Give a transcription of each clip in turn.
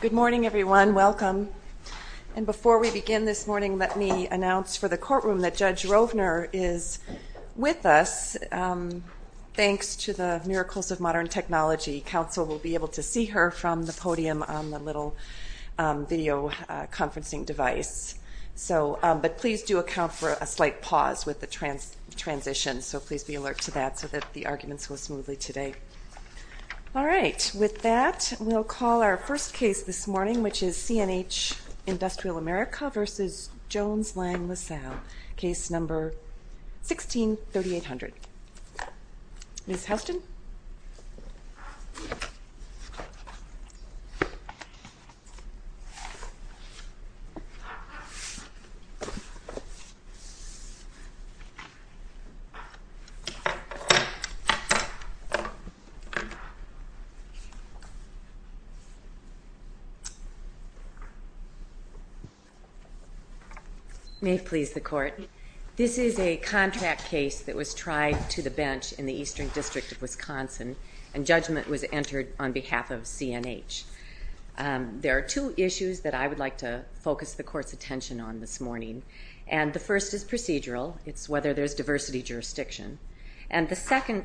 Good morning everyone, welcome. And before we begin this morning, let me announce for the courtroom that Judge Rovner is with us. Thanks to the Miracles of Modern Technology, counsel will be able to see her from the podium on the little video conferencing device. But please do account for a slight pause with the transition, so please be alert to that so that the Alright, with that, we'll call our first case this morning, which is CNH Industrial America v. Jones Lang LaSalle, case number 163800. Ms. Houston? May it please the Court, this is a contract case that was tried to the bench in the Eastern District of Wisconsin, and judgment was entered on behalf of CNH. There are two issues that I would like to focus the Court's attention on this morning, and the first is procedural, it's whether there's diversity jurisdiction, and the section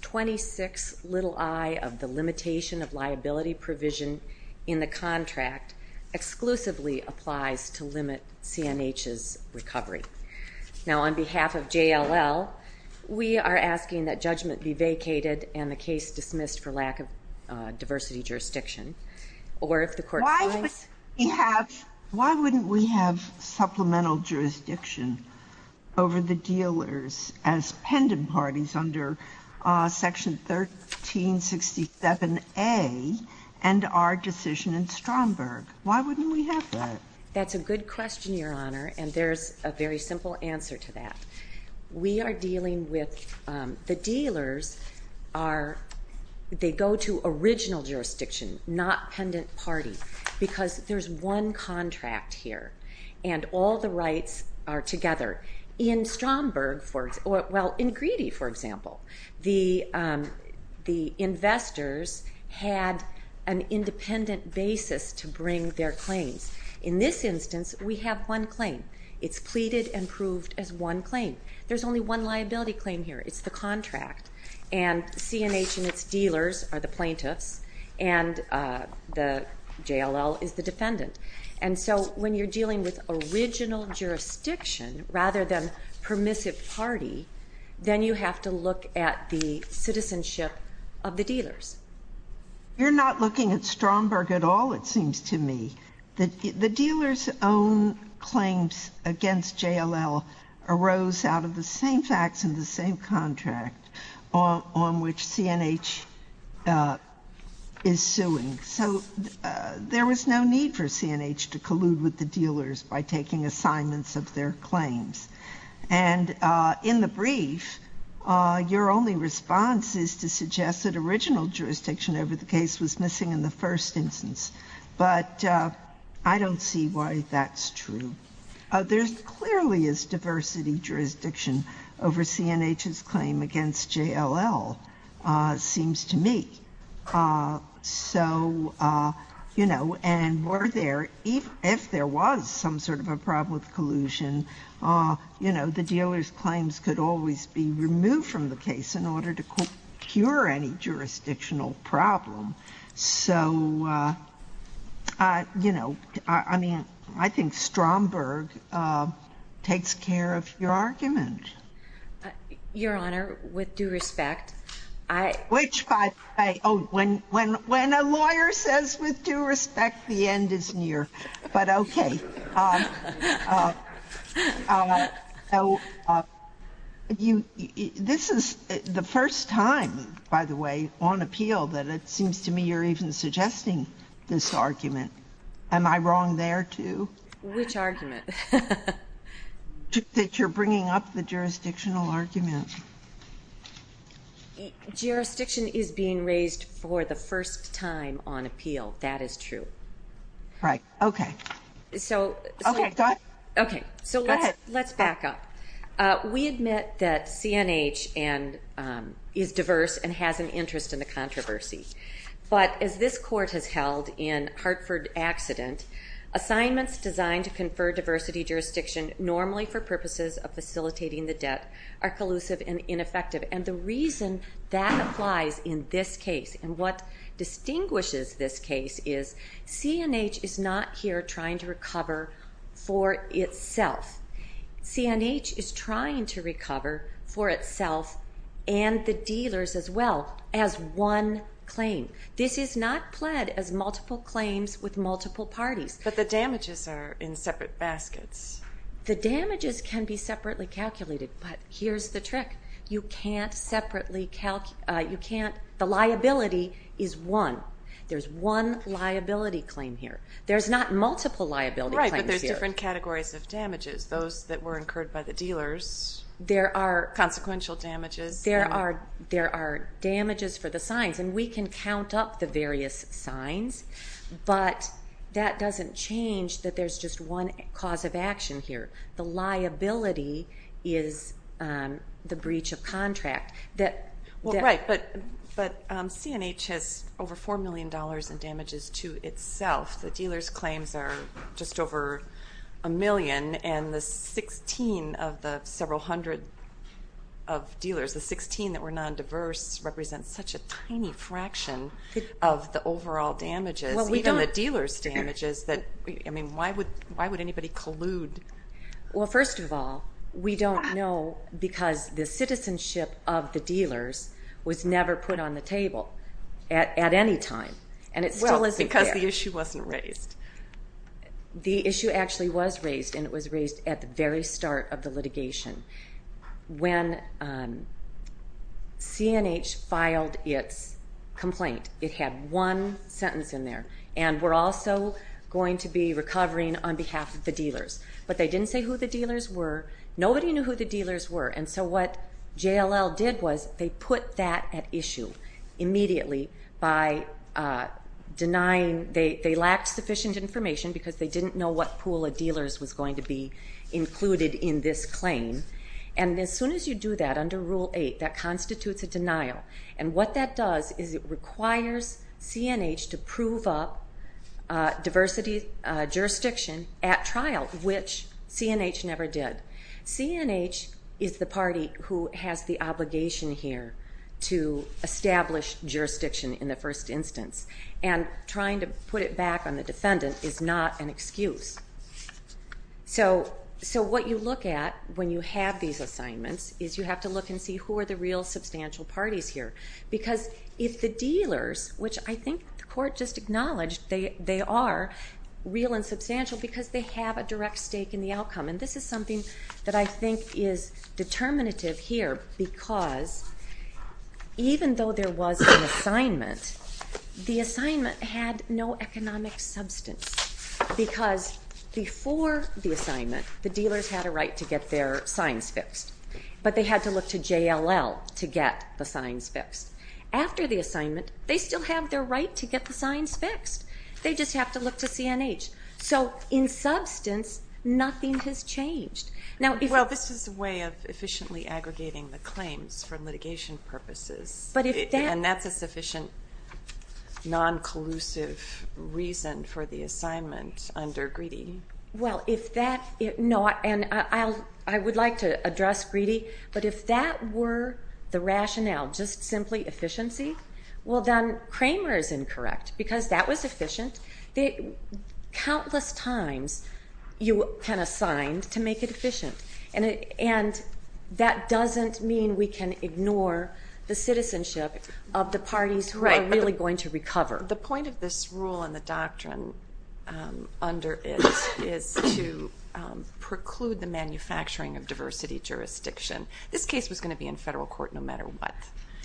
26 little i of the limitation of liability provision in the contract exclusively applies to limit CNH's recovery. Now on behalf of JLL, we are asking that judgment be vacated and the case dismissed for lack of diversity jurisdiction, or if the Court finds... Why wouldn't we have supplemental jurisdiction over the dealers as pendant parties under section 1367A and our decision in Stromberg? Why wouldn't we have that? That's a good question, Your Honor, and there's a very simple answer to that. We are dealing with the dealers are, they go to original jurisdiction, not pendant party, because there's one contract here, and all the rights are together. In Stromberg, well, in Greedy, for example, the investors had an independent basis to bring their claims. In this instance, we have one claim. It's pleaded and proved as one claim. There's only one liability claim here, it's the contract, and CNH and its dealers are the And so when you're dealing with original jurisdiction rather than permissive party, then you have to look at the citizenship of the dealers. You're not looking at Stromberg at all, it seems to me. The dealer's own claims against JLL arose out of the same facts in the same contract on which CNH is suing, so there was no need for CNH to collude with the dealers by taking assignments of their claims. And in the brief, your only response is to suggest that original jurisdiction over the case was missing in the first instance, but I don't see why that's true. There clearly is diversity jurisdiction over CNH's claim against JLL, seems to me. So, you know, and were there, if there was some sort of a problem with collusion, you know, the dealer's claims could always be removed from the case in order to cure any jurisdictional problem. So, you know, I mean, I think Stromberg takes care of your argument. Your Honor, with due respect, I... Which by the way, oh, when a lawyer says with due respect, the end is near, but okay. So, this is the first time, by the way, on appeal that it seems to me you're even suggesting this argument. Am I wrong there too? Which argument? That you're bringing up the jurisdictional argument. Jurisdiction is being raised for the first time on appeal, that is true. Right, okay. So... Okay, go ahead. Okay, so let's back up. We admit that CNH is diverse and has an interest in the court has held in Hartford accident. Assignments designed to confer diversity jurisdiction normally for purposes of facilitating the debt are collusive and ineffective. And the reason that applies in this case and what distinguishes this case is CNH is not here trying to recover for itself. CNH is trying to multiple claims with multiple parties. But the damages are in separate baskets. The damages can be separately calculated, but here's the trick. You can't separately calc... You can't... The liability is one. There's one liability claim here. There's not multiple liability claims here. Right, but there's different categories of damages. Those that were incurred by the dealers. There are... Consequential damages. There are... There are damages for the signs. And we can count up the various signs, but that doesn't change that there's just one cause of action here. The liability is the breach of contract that... Well, right, but CNH has over four million dollars in damages to itself. The dealers claims are just over a million and the 16 of the first represents such a tiny fraction of the overall damages. Well, we don't... Even the dealer's damages that... I mean, why would... Why would anybody collude? Well, first of all, we don't know because the citizenship of the dealers was never put on the table at any time. And it still isn't there. Well, because the issue wasn't raised. The issue actually was raised and it was raised at the very start of the case. CNH filed its complaint. It had one sentence in there. And we're also going to be recovering on behalf of the dealers. But they didn't say who the dealers were. Nobody knew who the dealers were. And so what JLL did was they put that at issue immediately by denying... They lacked sufficient information because they didn't know what pool of dealers was going to be included in this claim. And as soon as you do that under Rule 8, that constitutes a denial. And what that does is it requires CNH to prove up diversity jurisdiction at trial, which CNH never did. CNH is the party who has the obligation here to establish jurisdiction in the first instance. And trying to put it back on the defendant is not an excuse. So what you look at when you have these assignments is you have to look and see who are the real substantial parties here. Because if the dealers, which I think the court just acknowledged they are real and substantial, because they have a direct stake in the outcome. And this is something that I think is determinative here because even though there was an assignment, the assignment had no economic substance. Because before the assignment, the dealers had a right to get their signs fixed. But they had to look to JLL to get the signs fixed. After the assignment, they still have their right to get the signs fixed. They just have to look to CNH. So in substance, nothing has changed. Now... Well, this is a way of efficiently aggregating the non-collusive reason for the assignment under Greedy. Well, if that... No, and I would like to address Greedy, but if that were the rationale, just simply efficiency, well then Kramer is incorrect. Because that was efficient. Countless times you can assign to make it efficient. And that doesn't mean we can ignore the citizenship of the parties who are really going to recover. The point of this rule and the doctrine under it is to preclude the manufacturing of diversity jurisdiction. This case was going to be in federal court no matter what.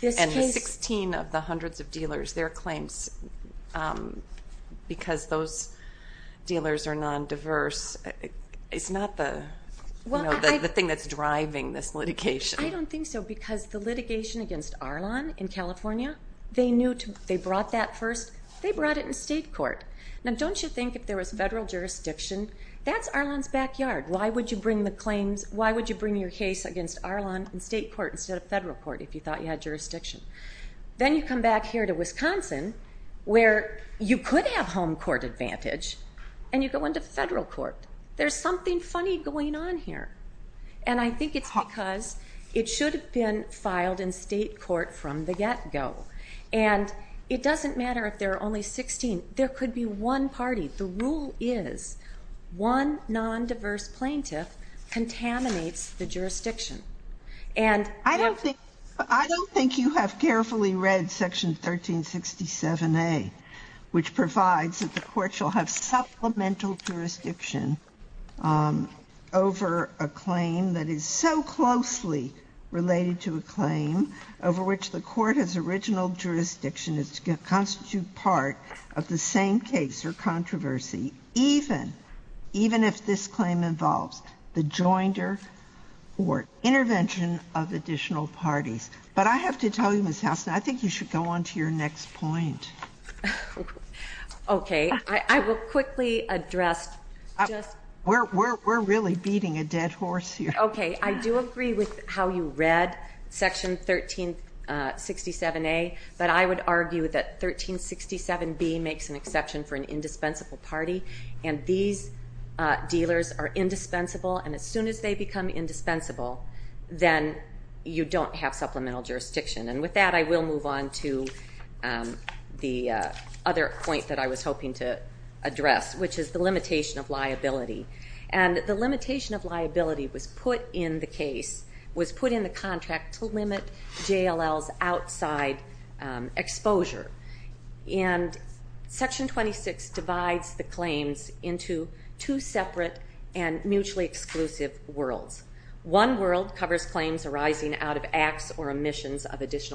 And the 16 of the hundreds of dealers, their claims, because those dealers are non-diverse, it's not the thing that's driving this because the litigation against Arlon in California, they knew to... They brought that first. They brought it in state court. Now don't you think if there was federal jurisdiction, that's Arlon's backyard. Why would you bring the claims? Why would you bring your case against Arlon in state court instead of federal court if you thought you had jurisdiction? Then you come back here to Wisconsin where you could have home court advantage and you go into federal court. There's something funny going on here. And I think it's because it should have been filed in state court from the get-go. And it doesn't matter if there are only 16. There could be one party. The rule is one non-diverse plaintiff contaminates the jurisdiction. And... I don't think you have carefully read section 1367A, which provides that the court shall have supplemental jurisdiction over a claim that is so closely related to a claim over which the court has original jurisdiction is to constitute part of the same case or controversy, even if this claim involves the joinder or intervention of additional parties. But I have to tell you, Ms. Housen, I think you should go on to your next point. Okay, I will quickly address... We're really beating a dead horse here. Okay, I do agree with how you read section 1367A, but I would argue that 1367B makes an exception for an indispensable party. And these dealers are indispensable. And as soon as they become indispensable, then you don't have supplemental jurisdiction. And with that, I will move on to the other point that I was hoping to address, which is the limitation of liability. And the limitation of liability was put in the case, was put in the contract to limit JLL's outside exposure. And section 26 divides the claims into two separate and additional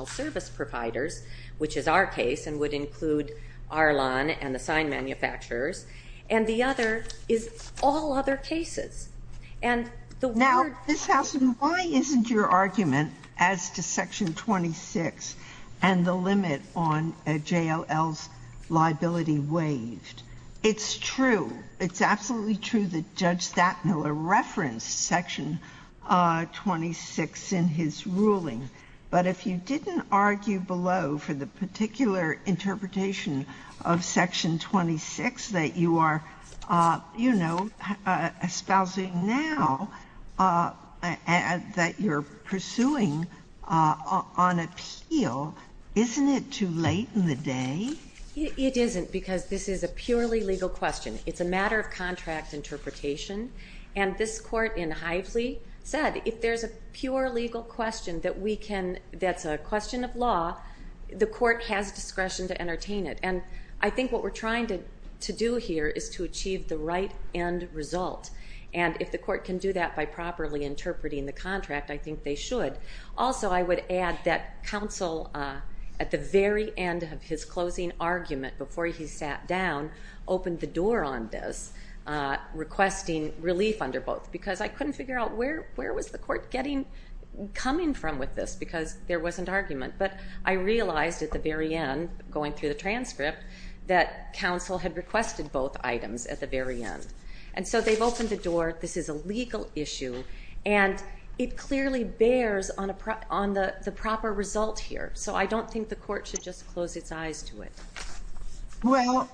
service providers, which is our case and would include Arlon and the sign manufacturers. And the other is all other cases. Now, Ms. Housen, why isn't your argument as to section 26 and the limit on JLL's liability waived? It's true. It's absolutely true that Judge Stadtmiller referenced section 26 in his ruling. But if you didn't argue below for the particular interpretation of section 26 that you are, you know, espousing now, that you're pursuing on appeal, isn't it too late in the day? It isn't, because this is a purely legal question. It's a matter of contract interpretation. And this court in Hively said, if there's a pure legal question that we can, that's a question of law, the court has discretion to entertain it. And I think what we're trying to do here is to achieve the right end result. And if the court can do that by properly interpreting the contract, I think they should. Also, I would add that counsel at the very end of his closing argument, before he sat down, opened the door on this, requesting relief under both, because I couldn't figure out where was the court getting, coming from with this, because there wasn't argument. But I realized at the very end, going through the transcript, that counsel had requested both items at the very end. And so they've opened the door. This is a legal issue. And it clearly bears on the proper result here. So I don't think the court should just close its eyes to it. Well,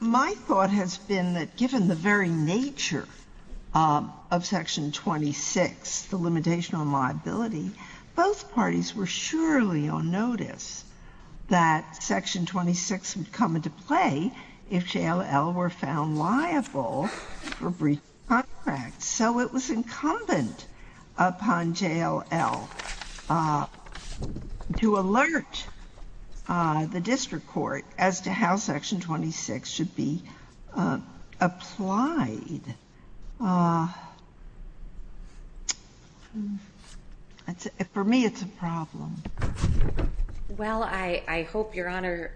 my thought has been that given the very nature of Section 26, the limitation on liability, both parties were surely on notice that Section 26 would come into play if JLL were found liable for breach of contract. So it was incumbent upon JLL to alert the court as to how Section 26 should be applied. For me, it's a problem. Well, I hope Your Honor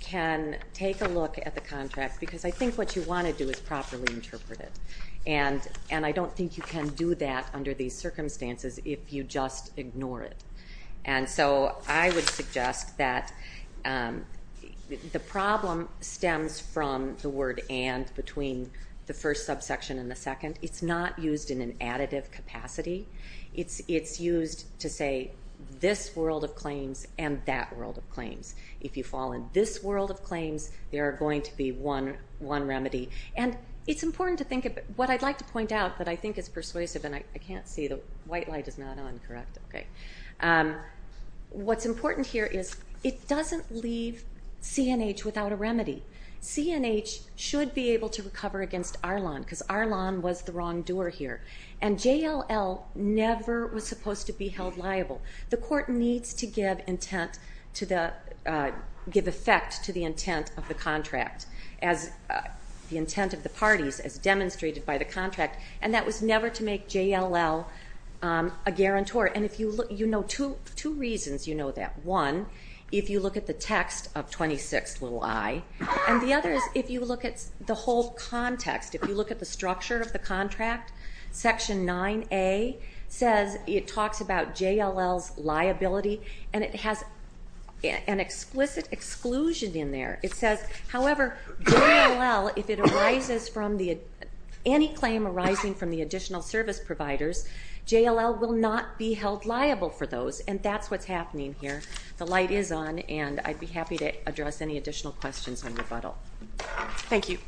can take a look at the contract, because I think what you want to do is properly interpret it. And I don't think you can do that under these circumstances if you just ignore it. And so I would suggest that the problem stems from the word and between the first subsection and the second. It's not used in an additive capacity. It's used to say this world of claims and that world of claims. If you fall in this world of claims, there are going to be one remedy. And it's important to think of what I'd like to point out that I think is persuasive. And I can't see. The white light is not on, correct? Okay. What's important here is it doesn't leave C&H without a remedy. C&H should be able to recover against Arlon, because Arlon was the wrongdoer here. And JLL never was supposed to be held liable. The court needs to give effect to the intent of the contract. As the was never to make JLL a guarantor. And you know two reasons you know that. One, if you look at the text of 26 little I. And the other is if you look at the whole context. If you look at the structure of the contract, section 9A says it talks about JLL's liability. And it has an exquisite exclusion in there. It says, however, JLL, if it arises from the any claim arising from the additional service providers, JLL will not be held liable for those. And that's what's happening here. The light is on. And I'd be happy to address any additional questions on rebuttal. Thank you.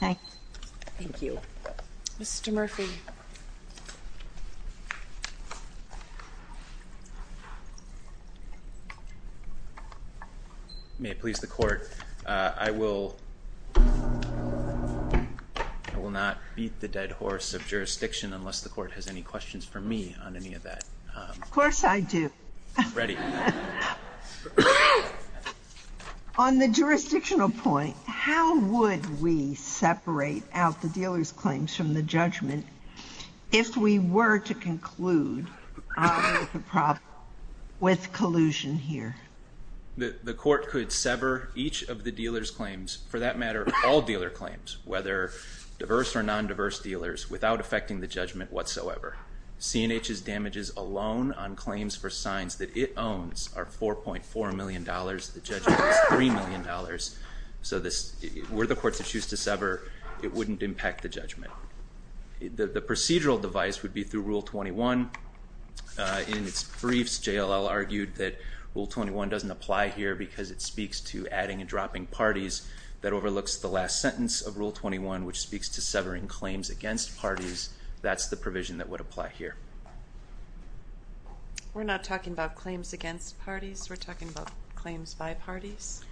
Thank you. Mr. Murphy. May it please the court, I will not beat the dead horse of jurisdiction unless the court has any questions for me on any of that. Of course I do. Ready. On the jurisdictional point, how would we separate out the dealer's claims from the judgment if we were to conclude the problem with collusion here? The court could sever each of the dealer's claims, for that matter, all dealer claims, whether diverse or non-diverse dealers, without affecting the judgment whatsoever. CNH's damages alone on claims for signs that it owns are $4.4 million. The judgment is $3 million. So were the courts to choose to sever, it wouldn't impact the judgment. The procedural device would be through Rule 21. In its briefs, JLL argued that Rule 21 doesn't apply here because it speaks to adding and dropping parties. That overlooks the last sentence of Rule 21, which speaks to severing claims against parties. That's the provision that would apply here. We're not talking about claims against parties. We're talking about claims by parties.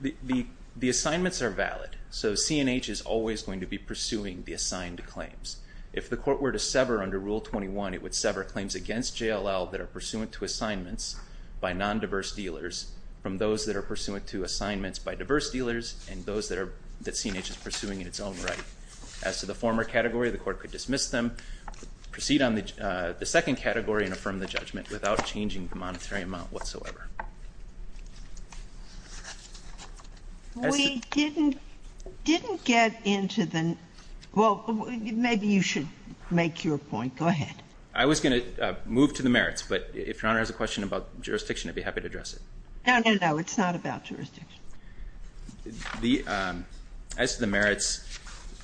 The assignments are valid. So CNH is always going to be pursuing the assigned claims. If the court were to sever under Rule 21, it would sever claims against JLL that are pursuant to assignments by non-diverse dealers from those that are pursuant to assignments by diverse dealers and those that CNH is pursuing in its own right. As to the former category, the court could dismiss them, proceed on the second category and affirm the judgment without changing the monetary amount whatsoever. As to the merits,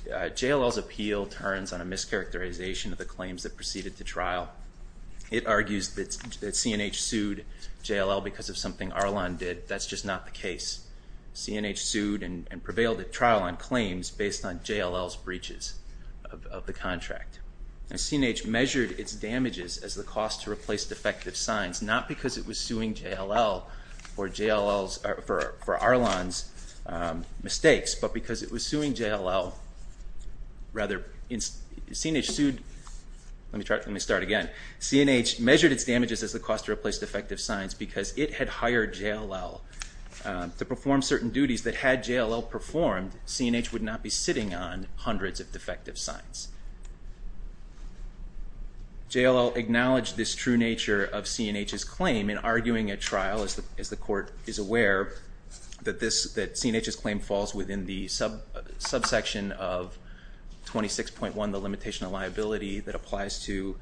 JLL's appeal turns on a mischaracterization of the claims that proceeded to trial. It argues that CNH sued JLL because of something Arlon did. That's just not the case. CNH sued and prevailed at trial on claims based on JLL's breaches of the contract. CNH measured its damages as the cost to replace defective signs, not because it was suing JLL for Arlon's mistakes, but because it was suing JLL rather than Arlon. Let me start again. CNH measured its damages as the cost to replace defective signs because it had hired JLL to perform certain duties that had JLL performed, CNH would not be sitting on hundreds of defective signs. JLL acknowledged this true nature of CNH's claim in arguing at trial, as the court is aware, that CNH's claim falls within the limitation of liability that applies to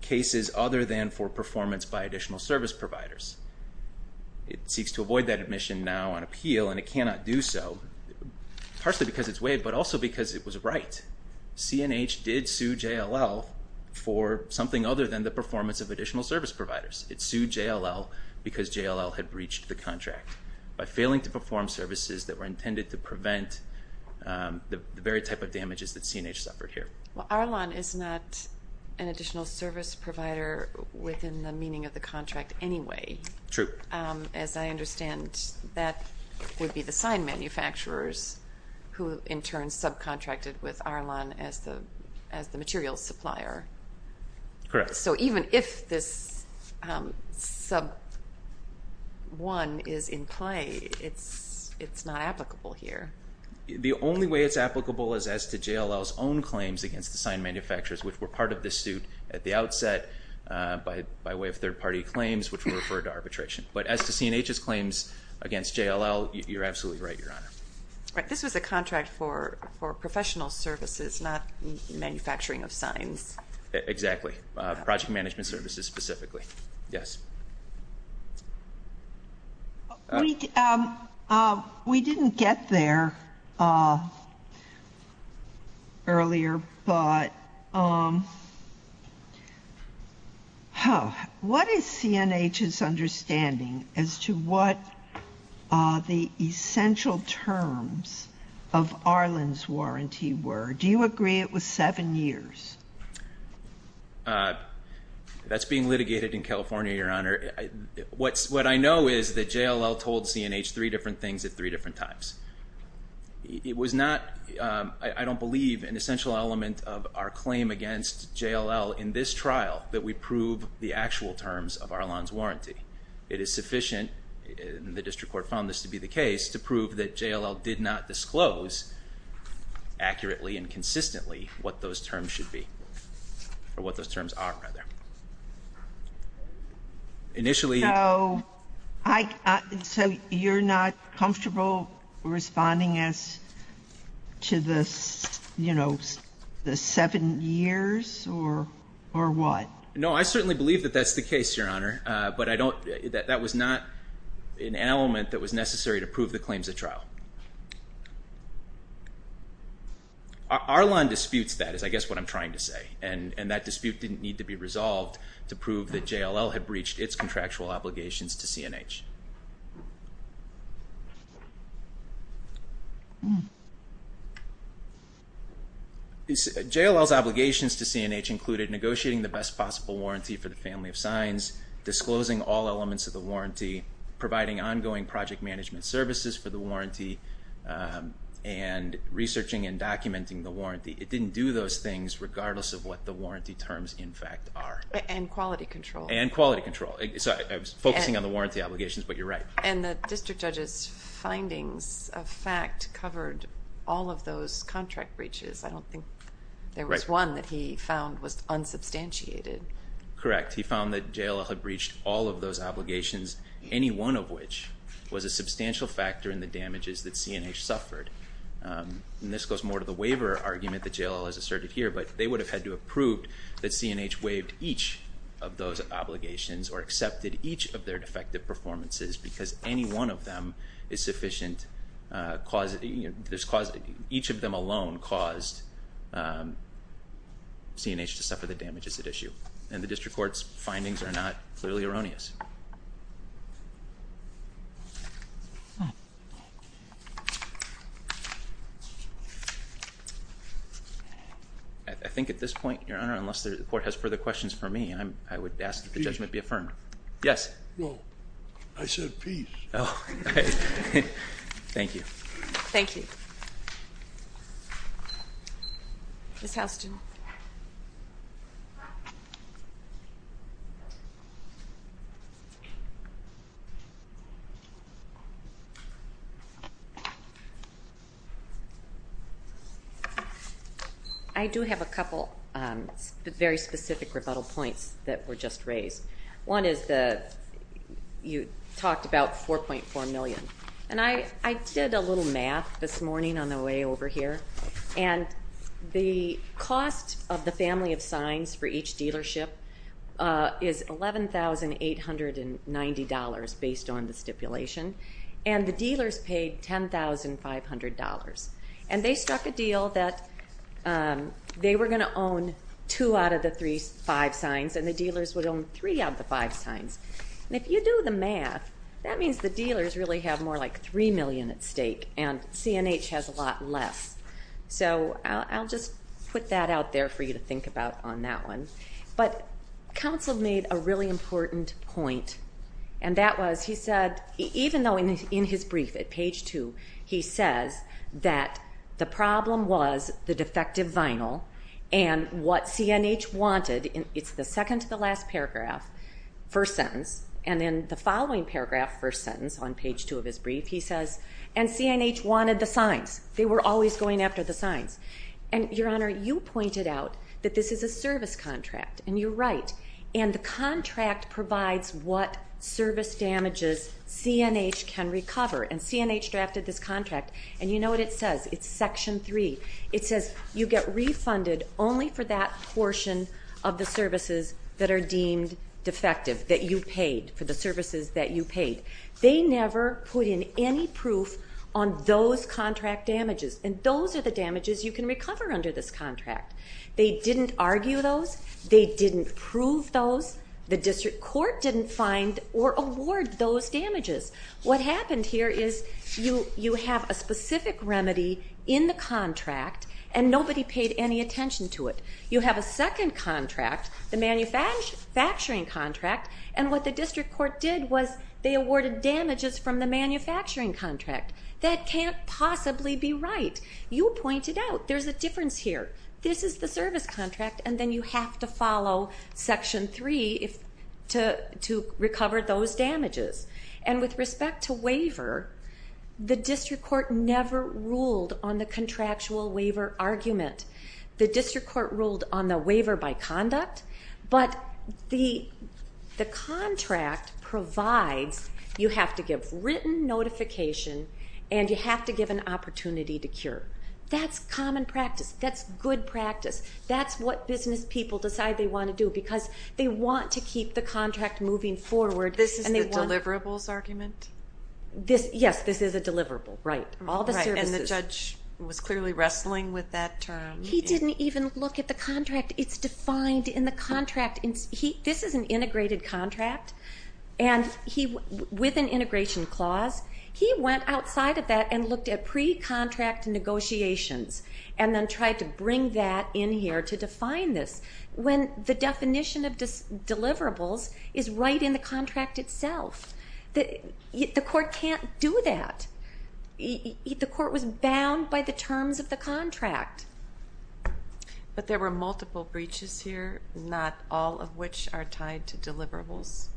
cases other than for performance by additional service providers. It seeks to avoid that admission now on appeal and it cannot do so, partially because it's weighed, but also because it was right. CNH did sue JLL for something other than the performance of additional service providers. It sued JLL because JLL had breached the contract by failing to perform services that were intended to prevent the very type of damages that CNH suffered here. Well, Arlon is not an additional service provider within the meaning of the contract anyway. True. As I understand, that would be the sign manufacturers who in turn subcontracted with Arlon as the material supplier. Correct. So even if this sub one is in play, it's not applicable here. The only way it's applicable is as to JLL's own claims against the sign manufacturers, which were part of the suit at the outset by way of third party claims, which were referred to arbitration. But as to CNH's claims against JLL, you're absolutely right, Your Honor. This was a contract for professional services, not manufacturing of signs. Exactly. Project management services specifically. Yes. We didn't get there earlier, but what is CNH's understanding as to what the essential terms of Arlon's warranty were? Do you agree it was seven years? That's being litigated in California, Your Honor. What I know is that JLL told CNH three different things at three different times. It was not, I don't believe, an essential element of our claim against JLL in this trial that we prove the actual terms of Arlon's warranty. It is sufficient, and the district court found this to be the case, to prove that JLL did not disclose accurately and consistently what those terms should be, or what those terms are, rather. So you're not comfortable responding as to the seven years, or what? No, I certainly believe that that's the case, Your Honor, but that was not an element that was necessary to prove the claims at trial. Arlon disputes that, is I guess what I'm trying to say, and that dispute didn't need to be resolved to prove that JLL had breached its contractual obligations to CNH. JLL's obligations to CNH included negotiating the best possible warranty for the family of signs, disclosing all elements of the warranty, providing ongoing project management services for the warranty, and researching and documenting the warranty. It didn't do those things regardless of what the warranty terms, in fact, are. And quality control. And quality control. I was focusing on the warranty obligations, but you're right. And the district judge's findings of fact covered all of those contract breaches. I don't think there was one that he found was unsubstantiated. Correct. He found that JLL had breached all of those obligations, any one of which was a substantial factor in the JLL, as asserted here, but they would have had to have proved that CNH waived each of those obligations or accepted each of their defective performances because any one of them is sufficient, each of them alone caused CNH to suffer the damages at issue. And the district court's findings are not clearly erroneous. I think at this point, Your Honor, unless the court has further questions for me, I would ask that the judgment be affirmed. Yes. No. I said peace. Thank you. Thank you. Ms. I do have a couple very specific rebuttal points that were just raised. One is that you talked about $4.4 million. And I did a little math this morning on the way over here, and the cost of the family of signs for each dealership is $11,890 based on the stipulation, and the dealers paid $10,500. And they struck a deal that they were going to own two out of the five signs, and the dealers would own three out of the five signs. And if you do the math, that means the dealers really have more like $3 million at stake, and CNH has a lot less. So I'll just put that out there for you to think about on that one. But counsel made a really important point, and that was, he said, even though in his brief at page two, he says that the problem was the defective vinyl, and what CNH wanted, it's the second to the last paragraph, first sentence, and then the following paragraph, first sentence on page two of his brief, he says, and CNH wanted the signs. They were always going after the signs. And, Your Honor, you pointed out that this is a service contract, and you're right. And the contract provides what service damages CNH can recover. And CNH drafted this contract, and you know what it says. It's section three. It says you get refunded only for that portion of the services that are deemed defective, that you paid, for the services that you paid. They never put in any proof on those contract damages, and those are the damages. They didn't prove those. The district court didn't find or award those damages. What happened here is you have a specific remedy in the contract, and nobody paid any attention to it. You have a second contract, the manufacturing contract, and what the district court did was they awarded damages from the manufacturing contract. That can't possibly be right. You pointed out there's a difference here. This is the service contract, and then you have to follow section three to recover those damages. And with respect to waiver, the district court never ruled on the contractual waiver argument. The district court ruled on the waiver by conduct, but the contract provides you have to give written notification and you have to give an opportunity to cure. That's common practice. That's good practice. That's what business people decide they want to do, because they want to keep the contract moving forward. This is the deliverables argument? Yes, this is a deliverable. All the services. And the judge was clearly wrestling with that term. He didn't even look at the contract. It's defined in the contract. This is an integrated contract, and with an integration clause, he went outside of that and looked at pre-contract negotiations, and then tried to bring that in here to define this, when the definition of deliverables is right in the contract itself. The court can't do that. The court was bound by the terms of the contract. But there were multiple breaches here, not all of which are tied to deliverables.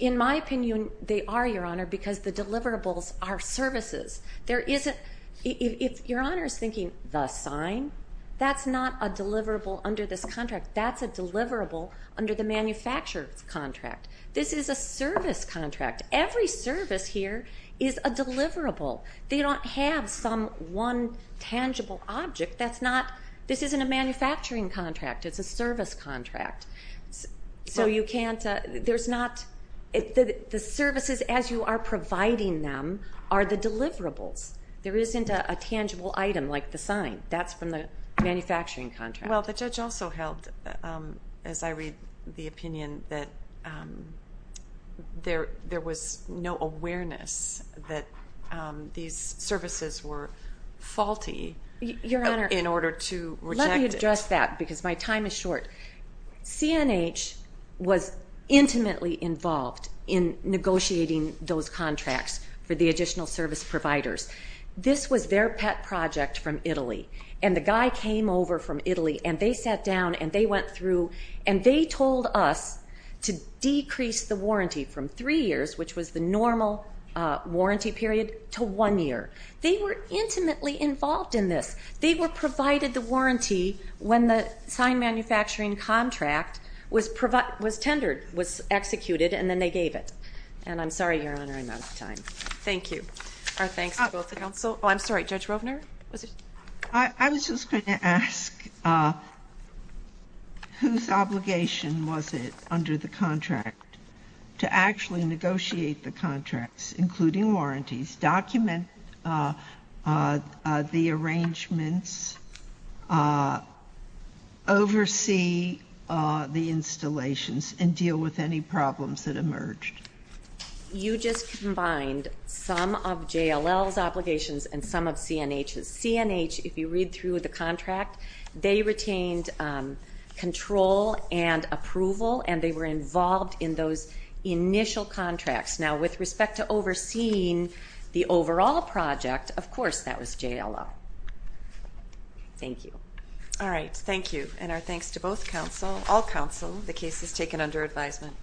In my opinion, they are, Your Honor, because the deliverables are services. If Your Honor is thinking, the sign, that's not a deliverable under this contract. That's a deliverable under the manufacturer's contract. This is a service contract. Every service here is a deliverable. They don't have some one tangible object. This isn't a manufacturing contract. It's a service contract. The services, as you are providing them, are the deliverables. There isn't a tangible item like the sign. That's from the manufacturing contract. Well, the judge also held, as I read the opinion, that there was no awareness that these services were faulty in order to reject it. Let me address that, because my time is short. CNH was intimately involved in negotiating those contracts for the additional service providers. This was their pet project from Italy, and the guy came over from Italy, and they sat down, and they went through, and they told us to decrease the warranty from three years, which was the normal warranty period, to one year. They were intimately involved in this. They were provided the warranty when the sign manufacturing contract was tendered, was executed, and then they gave it. I'm sorry Your Honor, I'm out of time. Thank you. Our thanks to both the counsel. Oh, I'm sorry. Judge Rovner? I was just going to ask, whose obligation was it under the contract to actually negotiate the contracts, including warranties, document the arrangements, oversee the installations, and deal with any problems that emerged? You just combined some of JLL's obligations and some of CNH's. CNH, if you read through the contract, they retained control and approval, and they were involved in those initial contracts. Now with respect to overseeing the overall project, of course that was JLL. Thank you. All right. Thank you. And our thanks to both counsel, all counsel, the cases taken under advisement.